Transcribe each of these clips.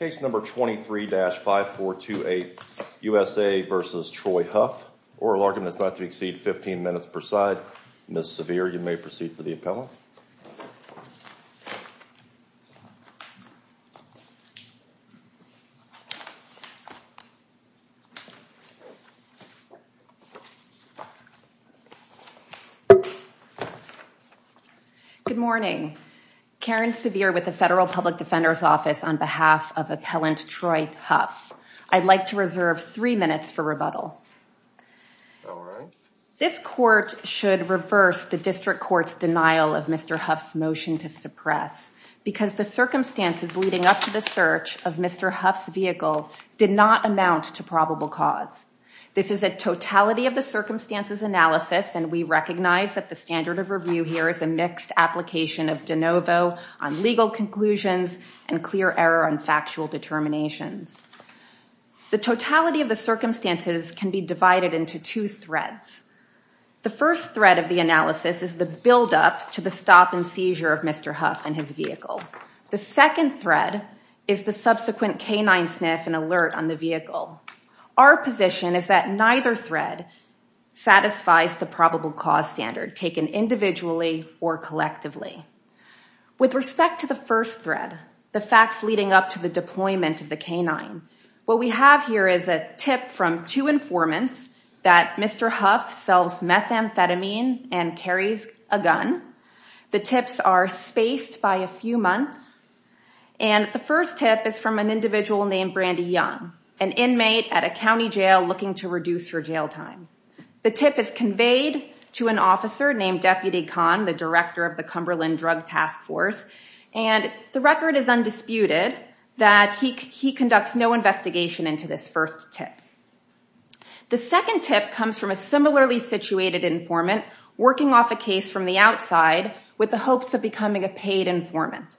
oral argument is not to exceed 15 minutes per side. Ms. Sevier, you may proceed for the appellant. Good morning. Karen Sevier with the Federal Public Defender's Office on behalf of appellant Troy Huff. I'd like to reserve three minutes for rebuttal. This court should reverse the district court's denial of Mr. Huff's motion to suppress because the circumstances leading up to the search of Mr. Huff's vehicle did not amount to probable cause. This is a totality of the circumstances analysis and we recognize that the standard of review here is a mixed application of de novo on legal conclusions and clear error on factual determinations. The totality of the circumstances can be divided into two threads. The first thread of the analysis is the buildup to the stop and seizure of Mr. Huff and his vehicle. The second thread is the subsequent canine sniff and alert on the vehicle. Our position is that neither thread satisfies the probable cause standard taken individually or collectively. With respect to the first thread, the facts leading up to the deployment of the canine, what we have here is a tip from two informants that Mr. Huff sells methamphetamine and carries a gun. The tips are spaced by a few months and the first tip is from an individual named Brandi Young, an inmate at a county jail looking to reduce her jail time. The tip is conveyed to an officer named Deputy Kahn, the director of the Cumberland Drug Task Force, and the record is undisputed that he conducts no investigation into this first tip. The second tip comes from a similarly situated informant working off a case from the outside with the hopes of becoming a paid informant.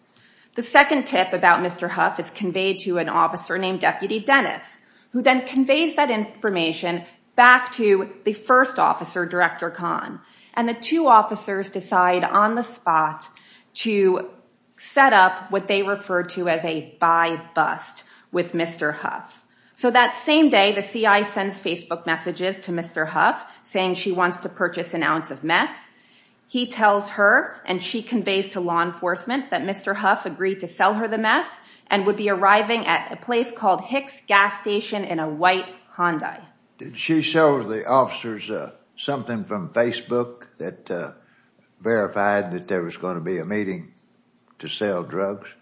The second tip about Mr. Huff is conveyed to an officer named Deputy Dennis, who then conveys that information back to the first officer, Director Kahn, and the two officers decide on the spot to set up what they refer to as a buy-bust with Mr. Huff. So that same day, the CI sends Facebook messages to Mr. Huff saying she wants to purchase an ounce of meth. He tells her and she conveys to law enforcement that Mr. Huff agreed to sell her the meth and would be arriving at a place called Hicks Gas Station in a white Hyundai. Did she show the officers something from Facebook that verified that there was going to be a meeting to sell drugs?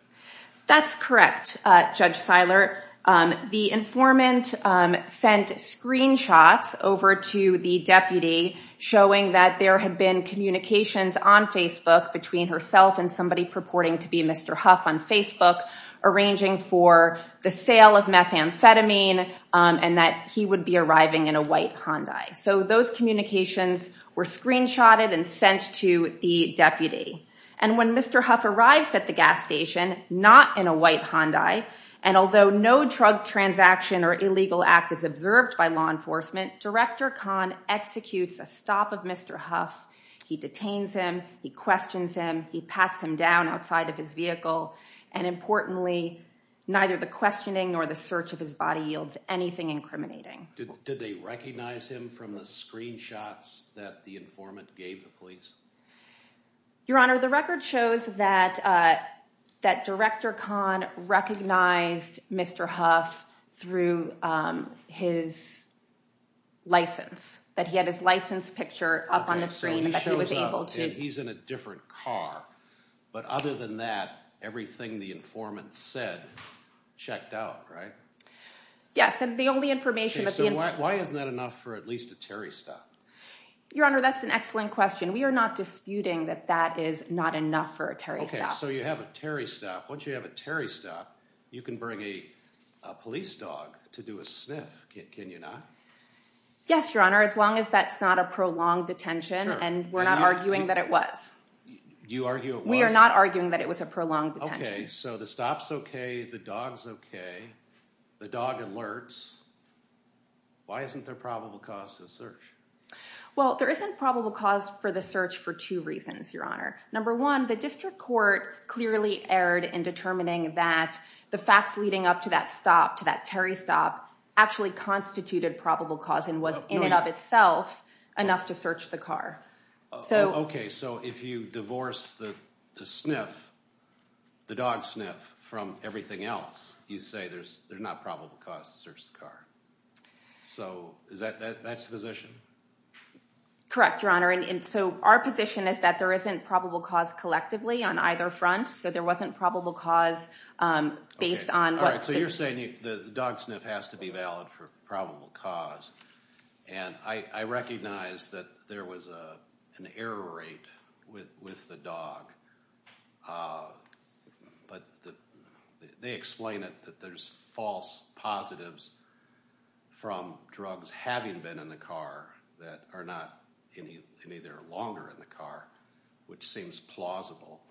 That's correct, Judge Seiler. The informant sent screenshots over to the deputy showing that there had been communications on Facebook between herself and somebody purporting to be Mr. Huff on Facebook arranging for the sale of methamphetamine and that he would be arriving in a white Hyundai. So those communications were screenshotted and sent to the deputy. And when Mr. Huff arrives at the gas station, not in a white Hyundai, and although no drug transaction or illegal act is observed by law enforcement, Director Kahn executes a stop of Mr. Huff. He detains him. He questions him. He pats him down outside of his vehicle, and importantly, neither the questioning nor the search of his body yields anything incriminating. Did they recognize him from the screenshots that the informant gave the police? Your Honor, the record shows that Director Kahn recognized Mr. Huff through his license, that he had his license picture up on the screen. So he shows up and he's in a different car. But other than that, everything the informant said checked out, right? Yes, and the only information that the informant… So why isn't that enough for at least a Terry stop? Your Honor, that's an excellent question. We are not disputing that that is not enough for a Terry stop. Okay, so you have a Terry stop. Once you have a Terry stop, you can bring a police dog to do a sniff, can you not? Yes, Your Honor, as long as that's not a prolonged detention and we're not arguing that it was. You argue it was? We are not arguing that it was a prolonged detention. Okay, so the stop's okay, the dog's okay, the dog alerts. Why isn't there probable cause to search? Well, there isn't probable cause for the search for two reasons, Your Honor. Number one, the district court clearly erred in determining that the facts leading up to that stop, to that Terry stop, actually constituted probable cause and was in and of itself enough to search the car. Okay, so if you divorce the sniff, the dog sniff, from everything else, you say there's not probable cause to search the car. So, that's the position? Correct, Your Honor, and so our position is that there isn't probable cause collectively on either front, so there wasn't probable cause based on what the- Okay, all right, so you're saying the dog sniff has to be valid for probable cause, and I recognize that there was an error rate with the dog, but they explain that there's false positives from drugs having been in the car that are not any longer in the car, which seems plausible,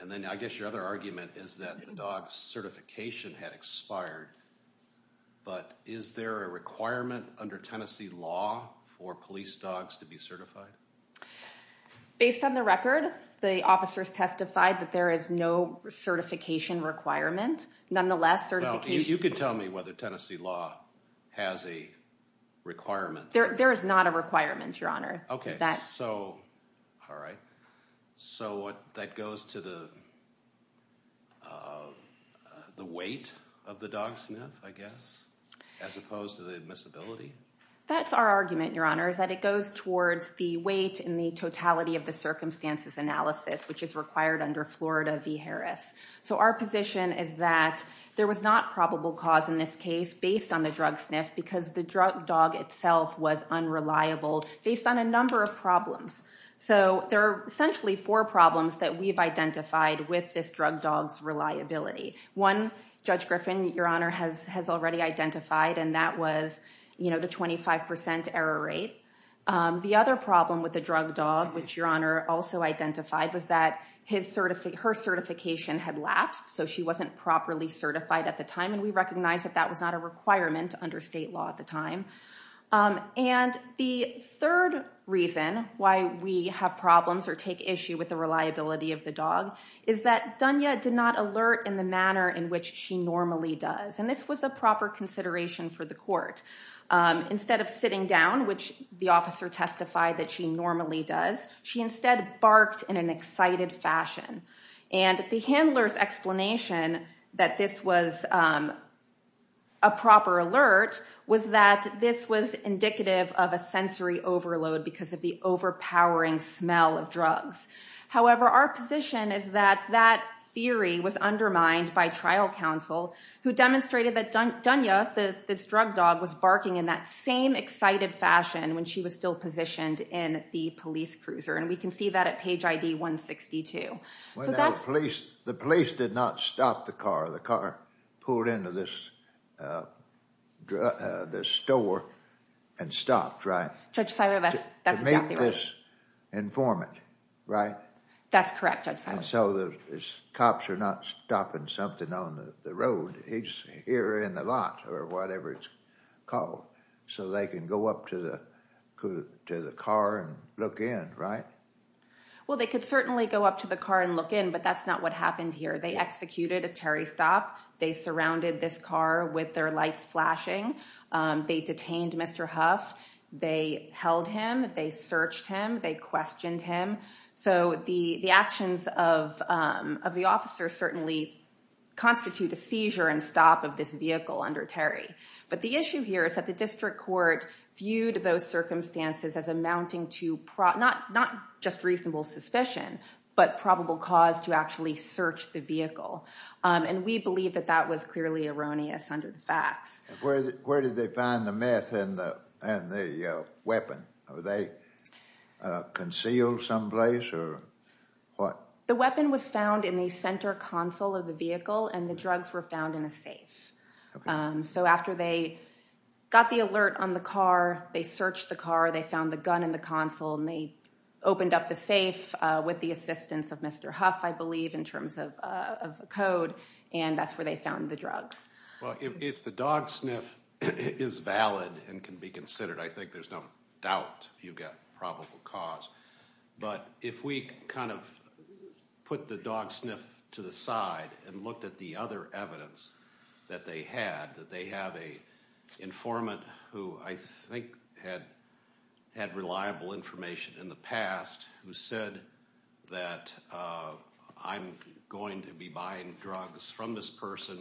and then I guess your other argument is that the dog's certification had expired, but is there a requirement under Tennessee law for police dogs to be certified? Based on the record, the officers testified that there is no certification requirement. Nonetheless, certification- Well, you can tell me whether Tennessee law has a requirement. There is not a requirement, Your Honor. Okay, so, all right, so that goes to the weight of the dog sniff, I guess, as opposed to the admissibility? That's our argument, Your Honor, is that it goes towards the weight and the totality of the circumstances analysis, which is required under Florida v. Harris. So our position is that there was not probable cause in this case based on the drug sniff because the drug dog itself was unreliable based on a number of problems. So there are essentially four problems that we've identified with this drug dog's reliability. One, Judge Griffin, Your Honor, has already identified, and that was the 25% error rate. The other problem with the drug dog, which Your Honor also identified, was that her certification had lapsed, so she wasn't properly certified at the time, and we recognize that that was not a requirement under state law at the time. And the third reason why we have problems or take issue with the reliability of the dog is that Dunya did not alert in the manner in which she normally does. And this was a proper consideration for the court. Instead of sitting down, which the officer testified that she normally does, she instead barked in an excited fashion. And the handler's explanation that this was a proper alert was that this was indicative of a sensory overload because of the overpowering smell of drugs. However, our position is that that theory was undermined by trial counsel who demonstrated that Dunya, this drug dog, was barking in that same excited fashion when she was still positioned in the police cruiser, and we can see that at page ID 162. The police did not stop the car. The car pulled into this store and stopped, right? Judge Siler, that's exactly right. That's correct, Judge Siler. Well, they could certainly go up to the car and look in, but that's not what happened here. They executed a Terry stop. They surrounded this car with their lights flashing. They detained Mr. Huff. They held him. They searched him. They questioned him. So the actions of the officer certainly constitute a seizure and stop of this vehicle under Terry. But the issue here is that the district court viewed those circumstances as amounting to not just reasonable suspicion but probable cause to actually search the vehicle, and we believe that that was clearly erroneous under the facts. Where did they find the meth and the weapon? Were they concealed someplace or what? The weapon was found in the center console of the vehicle, and the drugs were found in a safe. So after they got the alert on the car, they searched the car. They found the gun in the console, and they opened up the safe with the assistance of Mr. Huff, I believe, in terms of a code, and that's where they found the drugs. Well, if the dog sniff is valid and can be considered, I think there's no doubt you've got probable cause. But if we kind of put the dog sniff to the side and looked at the other evidence that they had, that they have an informant who I think had reliable information in the past who said that I'm going to be buying drugs from this person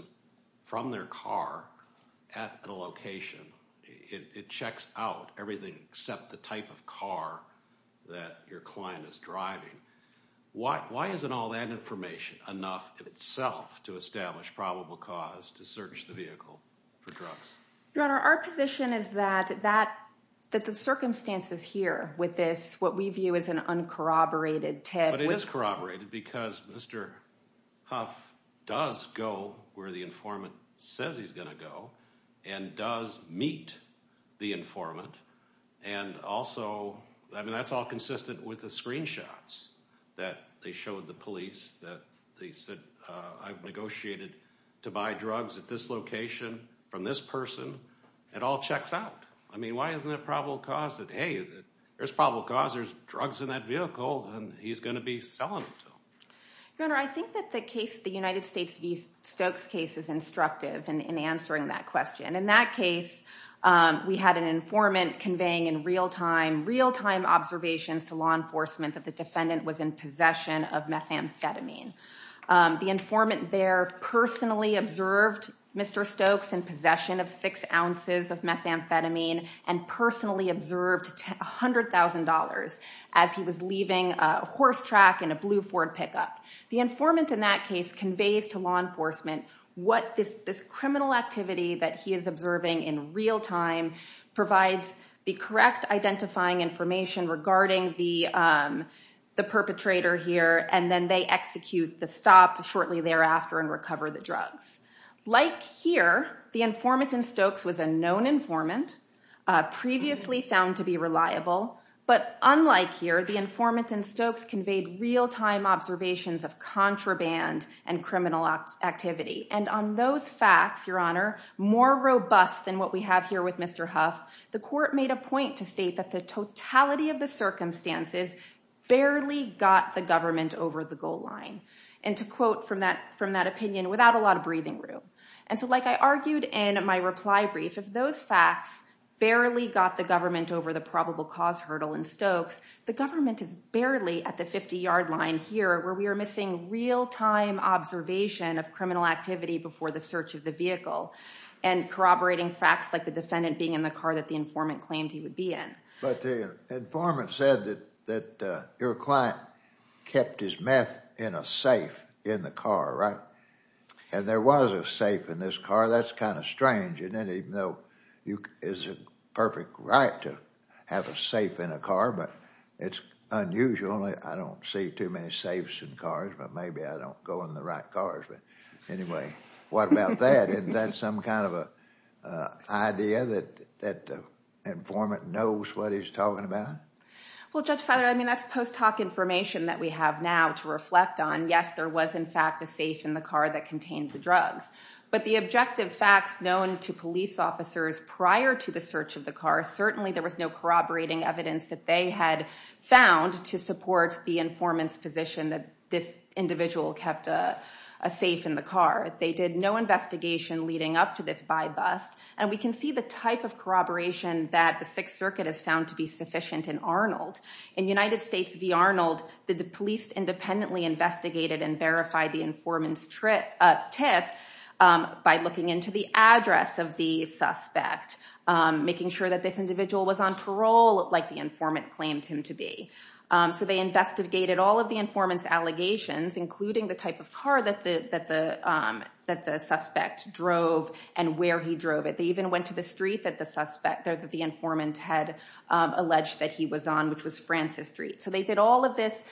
from their car at a location, it checks out everything except the type of car that your client is driving. Why isn't all that information enough in itself to establish probable cause to search the vehicle for drugs? Your Honor, our position is that the circumstances here with this, what we view as an uncorroborated tip. But it is corroborated because Mr. Huff does go where the informant says he's going to go and does meet the informant, and also, I mean, that's all consistent with the screenshots that they showed the police that they said, I've negotiated to buy drugs at this location from this person. It all checks out. I mean, why isn't it probable cause that, hey, there's probable cause. There's drugs in that vehicle, and he's going to be selling them to them? Your Honor, I think that the case, the United States v. Stokes case, is instructive in answering that question. In that case, we had an informant conveying in real-time, real-time observations to law enforcement that the defendant was in possession of methamphetamine. The informant there personally observed Mr. Stokes in possession of six ounces of methamphetamine and personally observed $100,000 as he was leaving a horse track in a blue Ford pickup. The informant in that case conveys to law enforcement what this criminal activity that he is observing in real-time provides the correct identifying information regarding the perpetrator here, and then they execute the stop shortly thereafter and recover the drugs. Like here, the informant in Stokes was a known informant, previously found to be reliable, but unlike here, the informant in Stokes conveyed real-time observations of contraband and criminal activity. And on those facts, Your Honor, more robust than what we have here with Mr. Huff, the court made a point to state that the totality of the circumstances barely got the government over the goal line. And to quote from that opinion, without a lot of breathing room. And so like I argued in my reply brief, if those facts barely got the government over the probable cause hurdle in Stokes, the government is barely at the 50-yard line here where we are missing real-time observation of criminal activity before the search of the vehicle and corroborating facts like the defendant being in the car that the informant claimed he would be in. But the informant said that your client kept his meth in a safe in the car, right? And there was a safe in this car. That's kind of strange. And even though it's a perfect right to have a safe in a car, but it's unusual. I don't see too many safes in cars, but maybe I don't go in the right cars. But anyway, what about that? Isn't that some kind of an idea that the informant knows what he's talking about? Well, Judge Seiler, I mean, that's post hoc information that we have now to reflect on. Yes, there was, in fact, a safe in the car that contained the drugs. But the objective facts known to police officers prior to the search of the car, certainly there was no corroborating evidence that they had found to support the informant's position that this individual kept a safe in the car. They did no investigation leading up to this by-bust. And we can see the type of corroboration that the Sixth Circuit has found to be sufficient in Arnold. In United States v. Arnold, the police independently investigated and verified the informant's tip by looking into the address of the suspect, making sure that this individual was on parole like the informant claimed him to be. So they investigated all of the informant's allegations, including the type of car that the suspect drove and where he drove it. They even went to the street that the informant had alleged that he was on, which was Francis Street. So they did all of this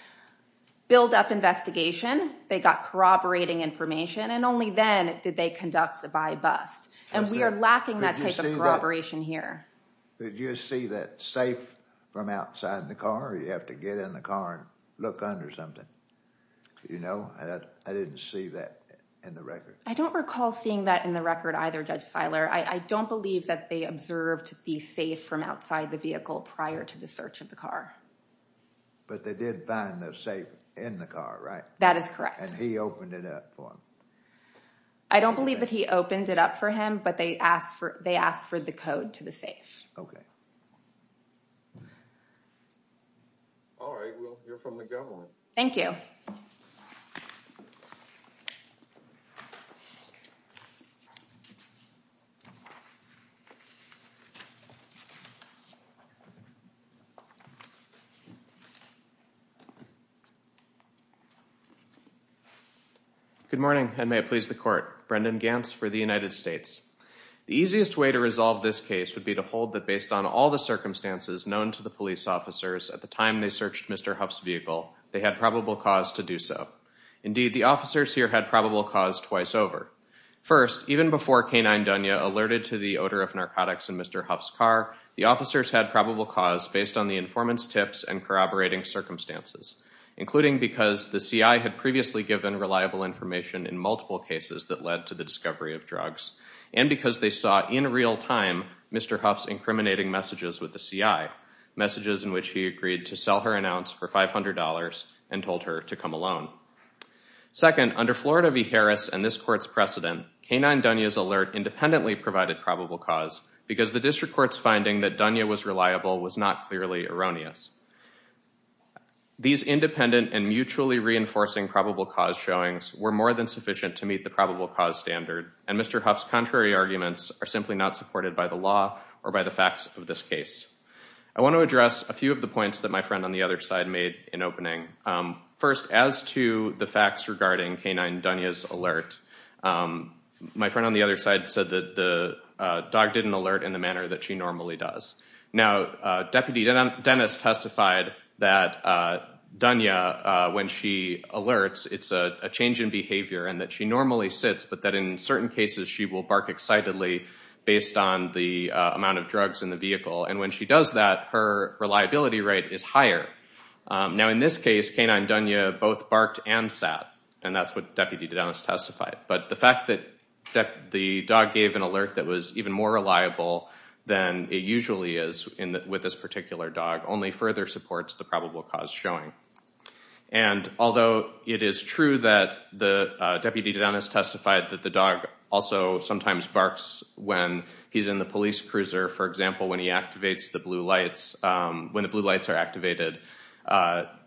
buildup investigation. They got corroborating information. And only then did they conduct a by-bust. And we are lacking that type of corroboration here. Did you see that safe from outside the car, or did you have to get in the car and look under something? You know, I didn't see that in the record. I don't recall seeing that in the record either, Judge Seiler. I don't believe that they observed the safe from outside the vehicle prior to the search of the car. But they did find the safe in the car, right? That is correct. And he opened it up for them? I don't believe that he opened it up for him, but they asked for the code to the safe. Okay. All right, well, you're from the government. Thank you. Good morning, and may it please the court. Brendan Gantz for the United States. The easiest way to resolve this case would be to hold that based on all the circumstances known to the police officers at the time they searched Mr. Huff's vehicle, they had probable cause to do so. Indeed, the officers here had probable cause twice over. First, even before K-9 Dunya alerted to the odor of narcotics in Mr. Huff's car, the officers had probable cause based on the informant's tips and corroborating circumstances, including because the CI had previously given reliable information in multiple cases that led to the discovery of drugs, and because they saw in real time Mr. Huff's incriminating messages with the CI, messages in which he agreed to sell her an ounce for $500 and told her to come alone. Second, under Florida v. Harris and this court's precedent, K-9 Dunya's alert independently provided probable cause because the district court's finding that Dunya was reliable was not clearly erroneous. These independent and mutually reinforcing probable cause showings were more than sufficient to meet the probable cause standard, and Mr. Huff's contrary arguments are simply not supported by the law or by the facts of this case. I want to address a few of the points that my friend on the other side made in opening. First, as to the facts regarding K-9 Dunya's alert, my friend on the other side said that the dog didn't alert in the manner that she normally does. Now, Deputy Dennis testified that Dunya, when she alerts, it's a change in behavior and that she normally sits, but that in certain cases she will bark excitedly based on the amount of drugs in the vehicle. And when she does that, her reliability rate is higher. Now, in this case, K-9 Dunya both barked and sat, and that's what Deputy Dennis testified. But the fact that the dog gave an alert that was even more reliable than it usually is with this particular dog only further supports the probable cause showing. And although it is true that Deputy Dennis testified that the dog also sometimes barks when he's in the police cruiser, for example, when he activates the blue lights, when the blue lights are activated,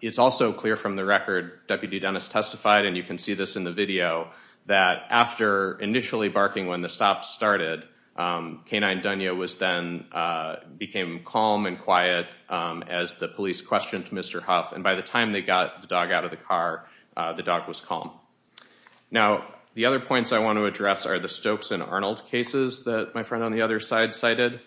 it's also clear from the record Deputy Dennis testified, and you can see this in the video, that after initially barking when the stop started, K-9 Dunya then became calm and quiet as the police questioned Mr. Huff. And by the time they got the dog out of the car, the dog was calm. Now, the other points I want to address are the Stokes and Arnold cases that my friend on the other side cited.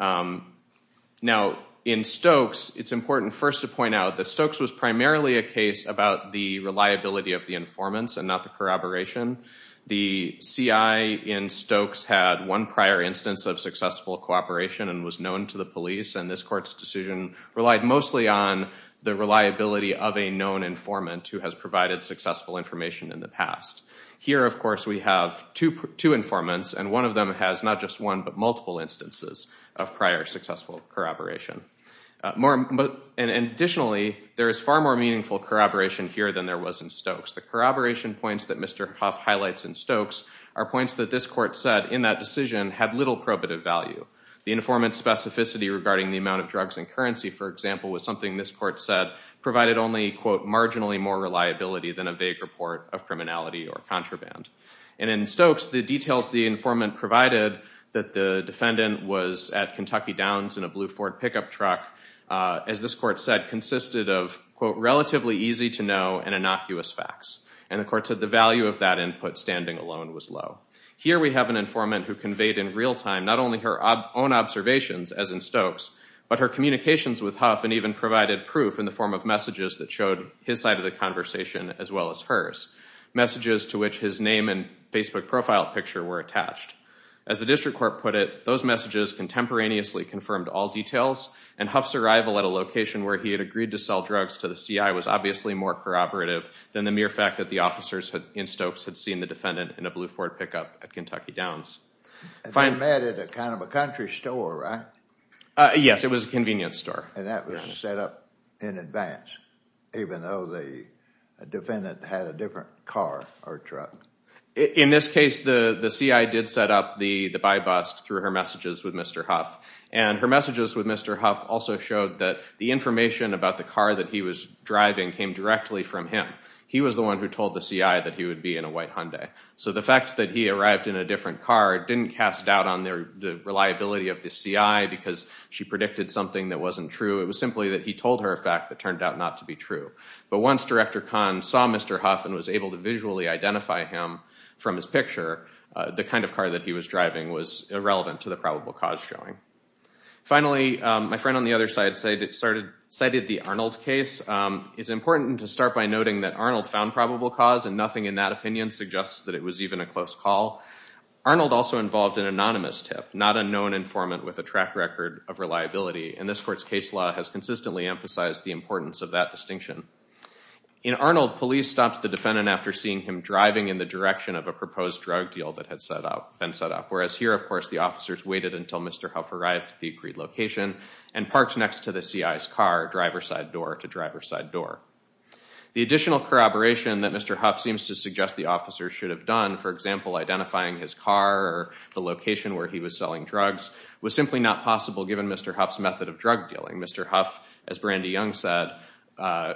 Now, in Stokes, it's important first to point out that Stokes was primarily a case about the reliability of the informants and not the corroboration. The CI in Stokes had one prior instance of successful cooperation and was known to the police, and this court's decision relied mostly on the reliability of a known informant who has provided successful information in the past. Here, of course, we have two informants, and one of them has not just one but multiple instances of prior successful corroboration. And additionally, there is far more meaningful corroboration here than there was in Stokes. The corroboration points that Mr. Huff highlights in Stokes are points that this court said in that decision had little probative value. The informant's specificity regarding the amount of drugs and currency, for example, was something this court said provided only, quote, marginally more reliability than a vague report of criminality or contraband. And in Stokes, the details the informant provided that the defendant was at Kentucky Downs in a blue Ford pickup truck, as this court said, consisted of, quote, relatively easy to know and innocuous facts. And the court said the value of that input standing alone was low. Here we have an informant who conveyed in real time not only her own observations, as in Stokes, but her communications with Huff and even provided proof in the form of messages that showed his side of the conversation as well as hers. Messages to which his name and Facebook profile picture were attached. As the district court put it, those messages contemporaneously confirmed all details, and Huff's arrival at a location where he had agreed to sell drugs to the CI was obviously more corroborative than the mere fact that the officers in Stokes had seen the defendant in a blue Ford pickup at Kentucky Downs. And they met at a kind of a country store, right? Yes, it was a convenience store. And that was set up in advance, even though the defendant had a different car or truck. In this case, the CI did set up the by bus through her messages with Mr. Huff. And her messages with Mr. Huff also showed that the information about the car that he was driving came directly from him. He was the one who told the CI that he would be in a white Hyundai. So the fact that he arrived in a different car didn't cast doubt on the reliability of the CI because she predicted something that wasn't true. It was simply that he told her a fact that turned out not to be true. But once Director Kahn saw Mr. Huff and was able to visually identify him from his picture, the kind of car that he was driving was irrelevant to the probable cause showing. Finally, my friend on the other side cited the Arnold case. It's important to start by noting that Arnold found probable cause, and nothing in that opinion suggests that it was even a close call. Arnold also involved an anonymous tip, not a known informant with a track record of reliability. And this court's case law has consistently emphasized the importance of that distinction. In Arnold, police stopped the defendant after seeing him driving in the direction of a proposed drug deal that had been set up. Whereas here, of course, the officers waited until Mr. Huff arrived at the agreed location and parked next to the CI's car, driver's side door to driver's side door. The additional corroboration that Mr. Huff seems to suggest the officers should have done, for example, identifying his car or the location where he was selling drugs, was simply not possible given Mr. Huff's method of drug dealing. Mr. Huff, as Brandy Young said,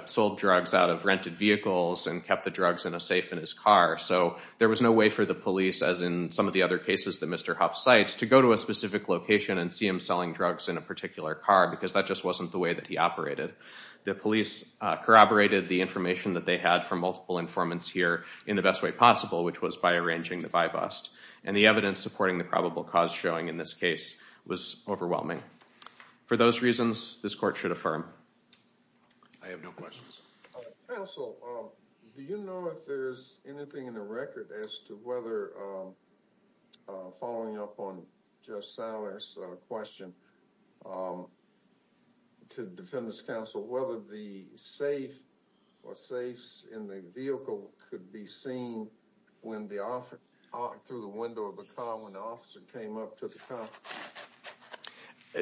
sold drugs out of rented vehicles and kept the drugs in a safe in his car. So there was no way for the police, as in some of the other cases that Mr. Huff cites, to go to a specific location and see him selling drugs in a particular car because that just wasn't the way that he operated. The police corroborated the information that they had from multiple informants here in the best way possible, which was by arranging the buy-bust. And the evidence supporting the probable cause showing in this case was overwhelming. For those reasons, this court should affirm. I have no questions. Counsel, do you know if there's anything in the record as to whether, following up on Judge Sauer's question to the Defendant's counsel, whether the safe or safes in the vehicle could be seen through the window of the car when the officer came up to the car?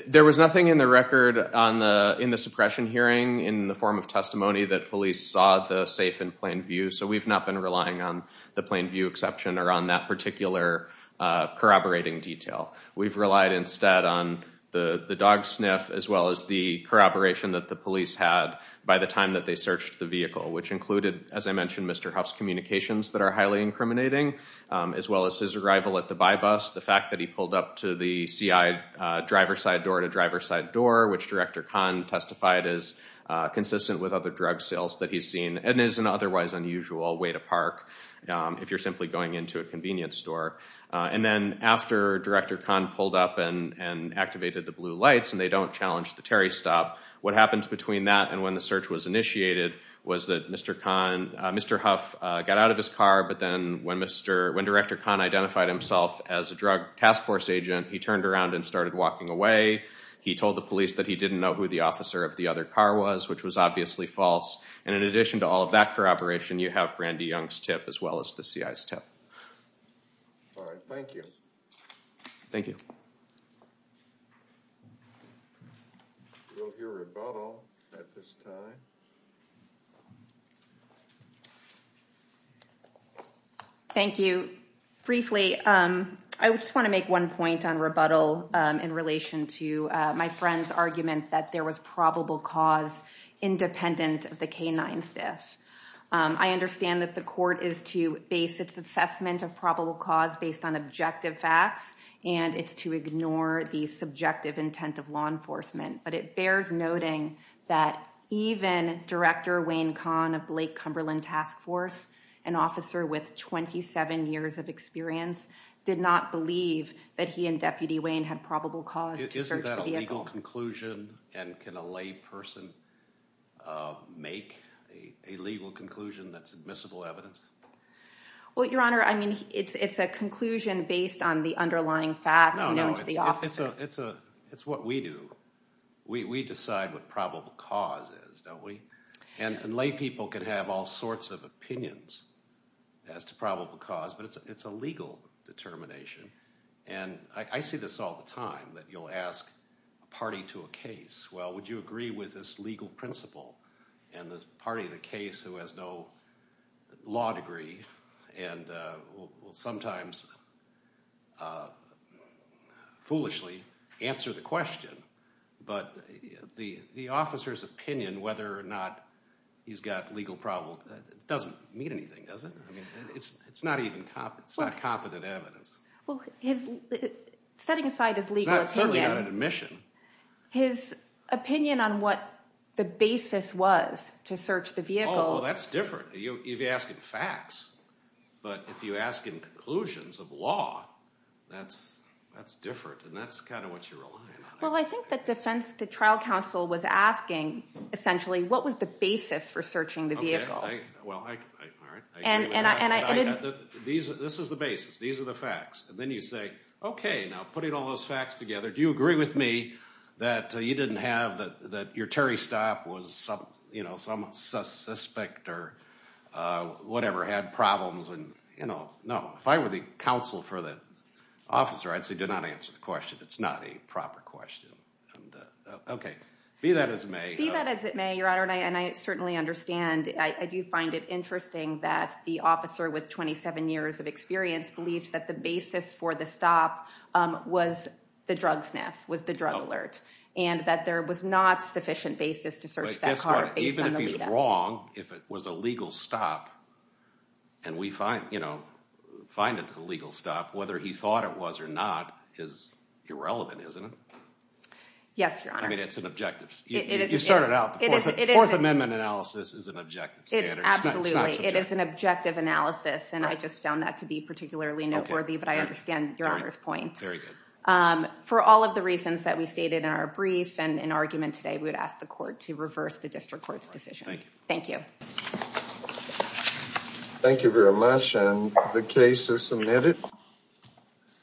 There was nothing in the record in the suppression hearing in the form of testimony that police saw the safe in plain view. So we've not been relying on the plain view exception or on that particular corroborating detail. We've relied instead on the dog sniff as well as the corroboration that the police had by the time that they searched the vehicle, which included, as I mentioned, Mr. Huff's communications that are highly incriminating, as well as his arrival at the buy-bust, the fact that he pulled up to the C.I. driver's side door at a driver's side door, which Director Kahn testified is consistent with other drug sales that he's seen and is an otherwise unusual way to park if you're simply going into a convenience store. And then after Director Kahn pulled up and activated the blue lights and they don't challenge the Terry stop, what happens between that and when the search was initiated was that Mr. Huff got out of his car, but then when Director Kahn identified himself as a drug task force agent, he turned around and started walking away. He told the police that he didn't know who the officer of the other car was, which was obviously false. And in addition to all of that corroboration, you have Brandy Young's tip as well as the C.I.'s tip. All right. Thank you. Thank you. We'll hear rebuttal at this time. Thank you. Briefly, I just want to make one point on rebuttal in relation to my friend's argument that there was probable cause independent of the canine stiff. I understand that the court is to base its assessment of probable cause based on objective facts, and it's to ignore the subjective intent of law enforcement. But it bears noting that even Director Wayne Kahn of Blake Cumberland Task Force, an officer with 27 years of experience, did not believe that he and Deputy Wayne had probable cause to search the vehicle. And can a lay person make a legal conclusion that's admissible evidence? Well, Your Honor, I mean, it's a conclusion based on the underlying facts known to the officers. No, no. It's what we do. We decide what probable cause is, don't we? And lay people can have all sorts of opinions as to probable cause, but it's a legal determination. And I see this all the time, that you'll ask a party to a case, well, would you agree with this legal principle? And the party of the case who has no law degree and will sometimes foolishly answer the question. But the officer's opinion whether or not he's got legal probable doesn't mean anything, does it? I mean, it's not even – it's not competent evidence. Well, his – setting aside his legal opinion – It's certainly not an admission. His opinion on what the basis was to search the vehicle – Oh, that's different. You're asking facts. But if you're asking conclusions of law, that's different. And that's kind of what you're relying on. Well, I think that defense – the trial counsel was asking, essentially, what was the basis for searching the vehicle. Well, all right. I agree with that. And I – This is the basis. These are the facts. And then you say, okay, now putting all those facts together, do you agree with me that you didn't have – that your Terry stop was some suspect or whatever had problems? No. If I were the counsel for the officer, I'd say do not answer the question. It's not a proper question. Okay. Be that as it may – I mean, I certainly understand. I do find it interesting that the officer with 27 years of experience believed that the basis for the stop was the drug sniff, was the drug alert, and that there was not sufficient basis to search that car based on the lead up. Even if he's wrong, if it was a legal stop and we find it a legal stop, whether he thought it was or not is irrelevant, isn't it? Yes, Your Honor. I mean, it's an objective. You started out. The Fourth Amendment analysis is an objective standard. Absolutely. It is an objective analysis, and I just found that to be particularly noteworthy, but I understand Your Honor's point. Very good. For all of the reasons that we stated in our brief and in argument today, we would ask the court to reverse the district court's decision. Thank you. Thank you. Thank you very much. And the case is submitted.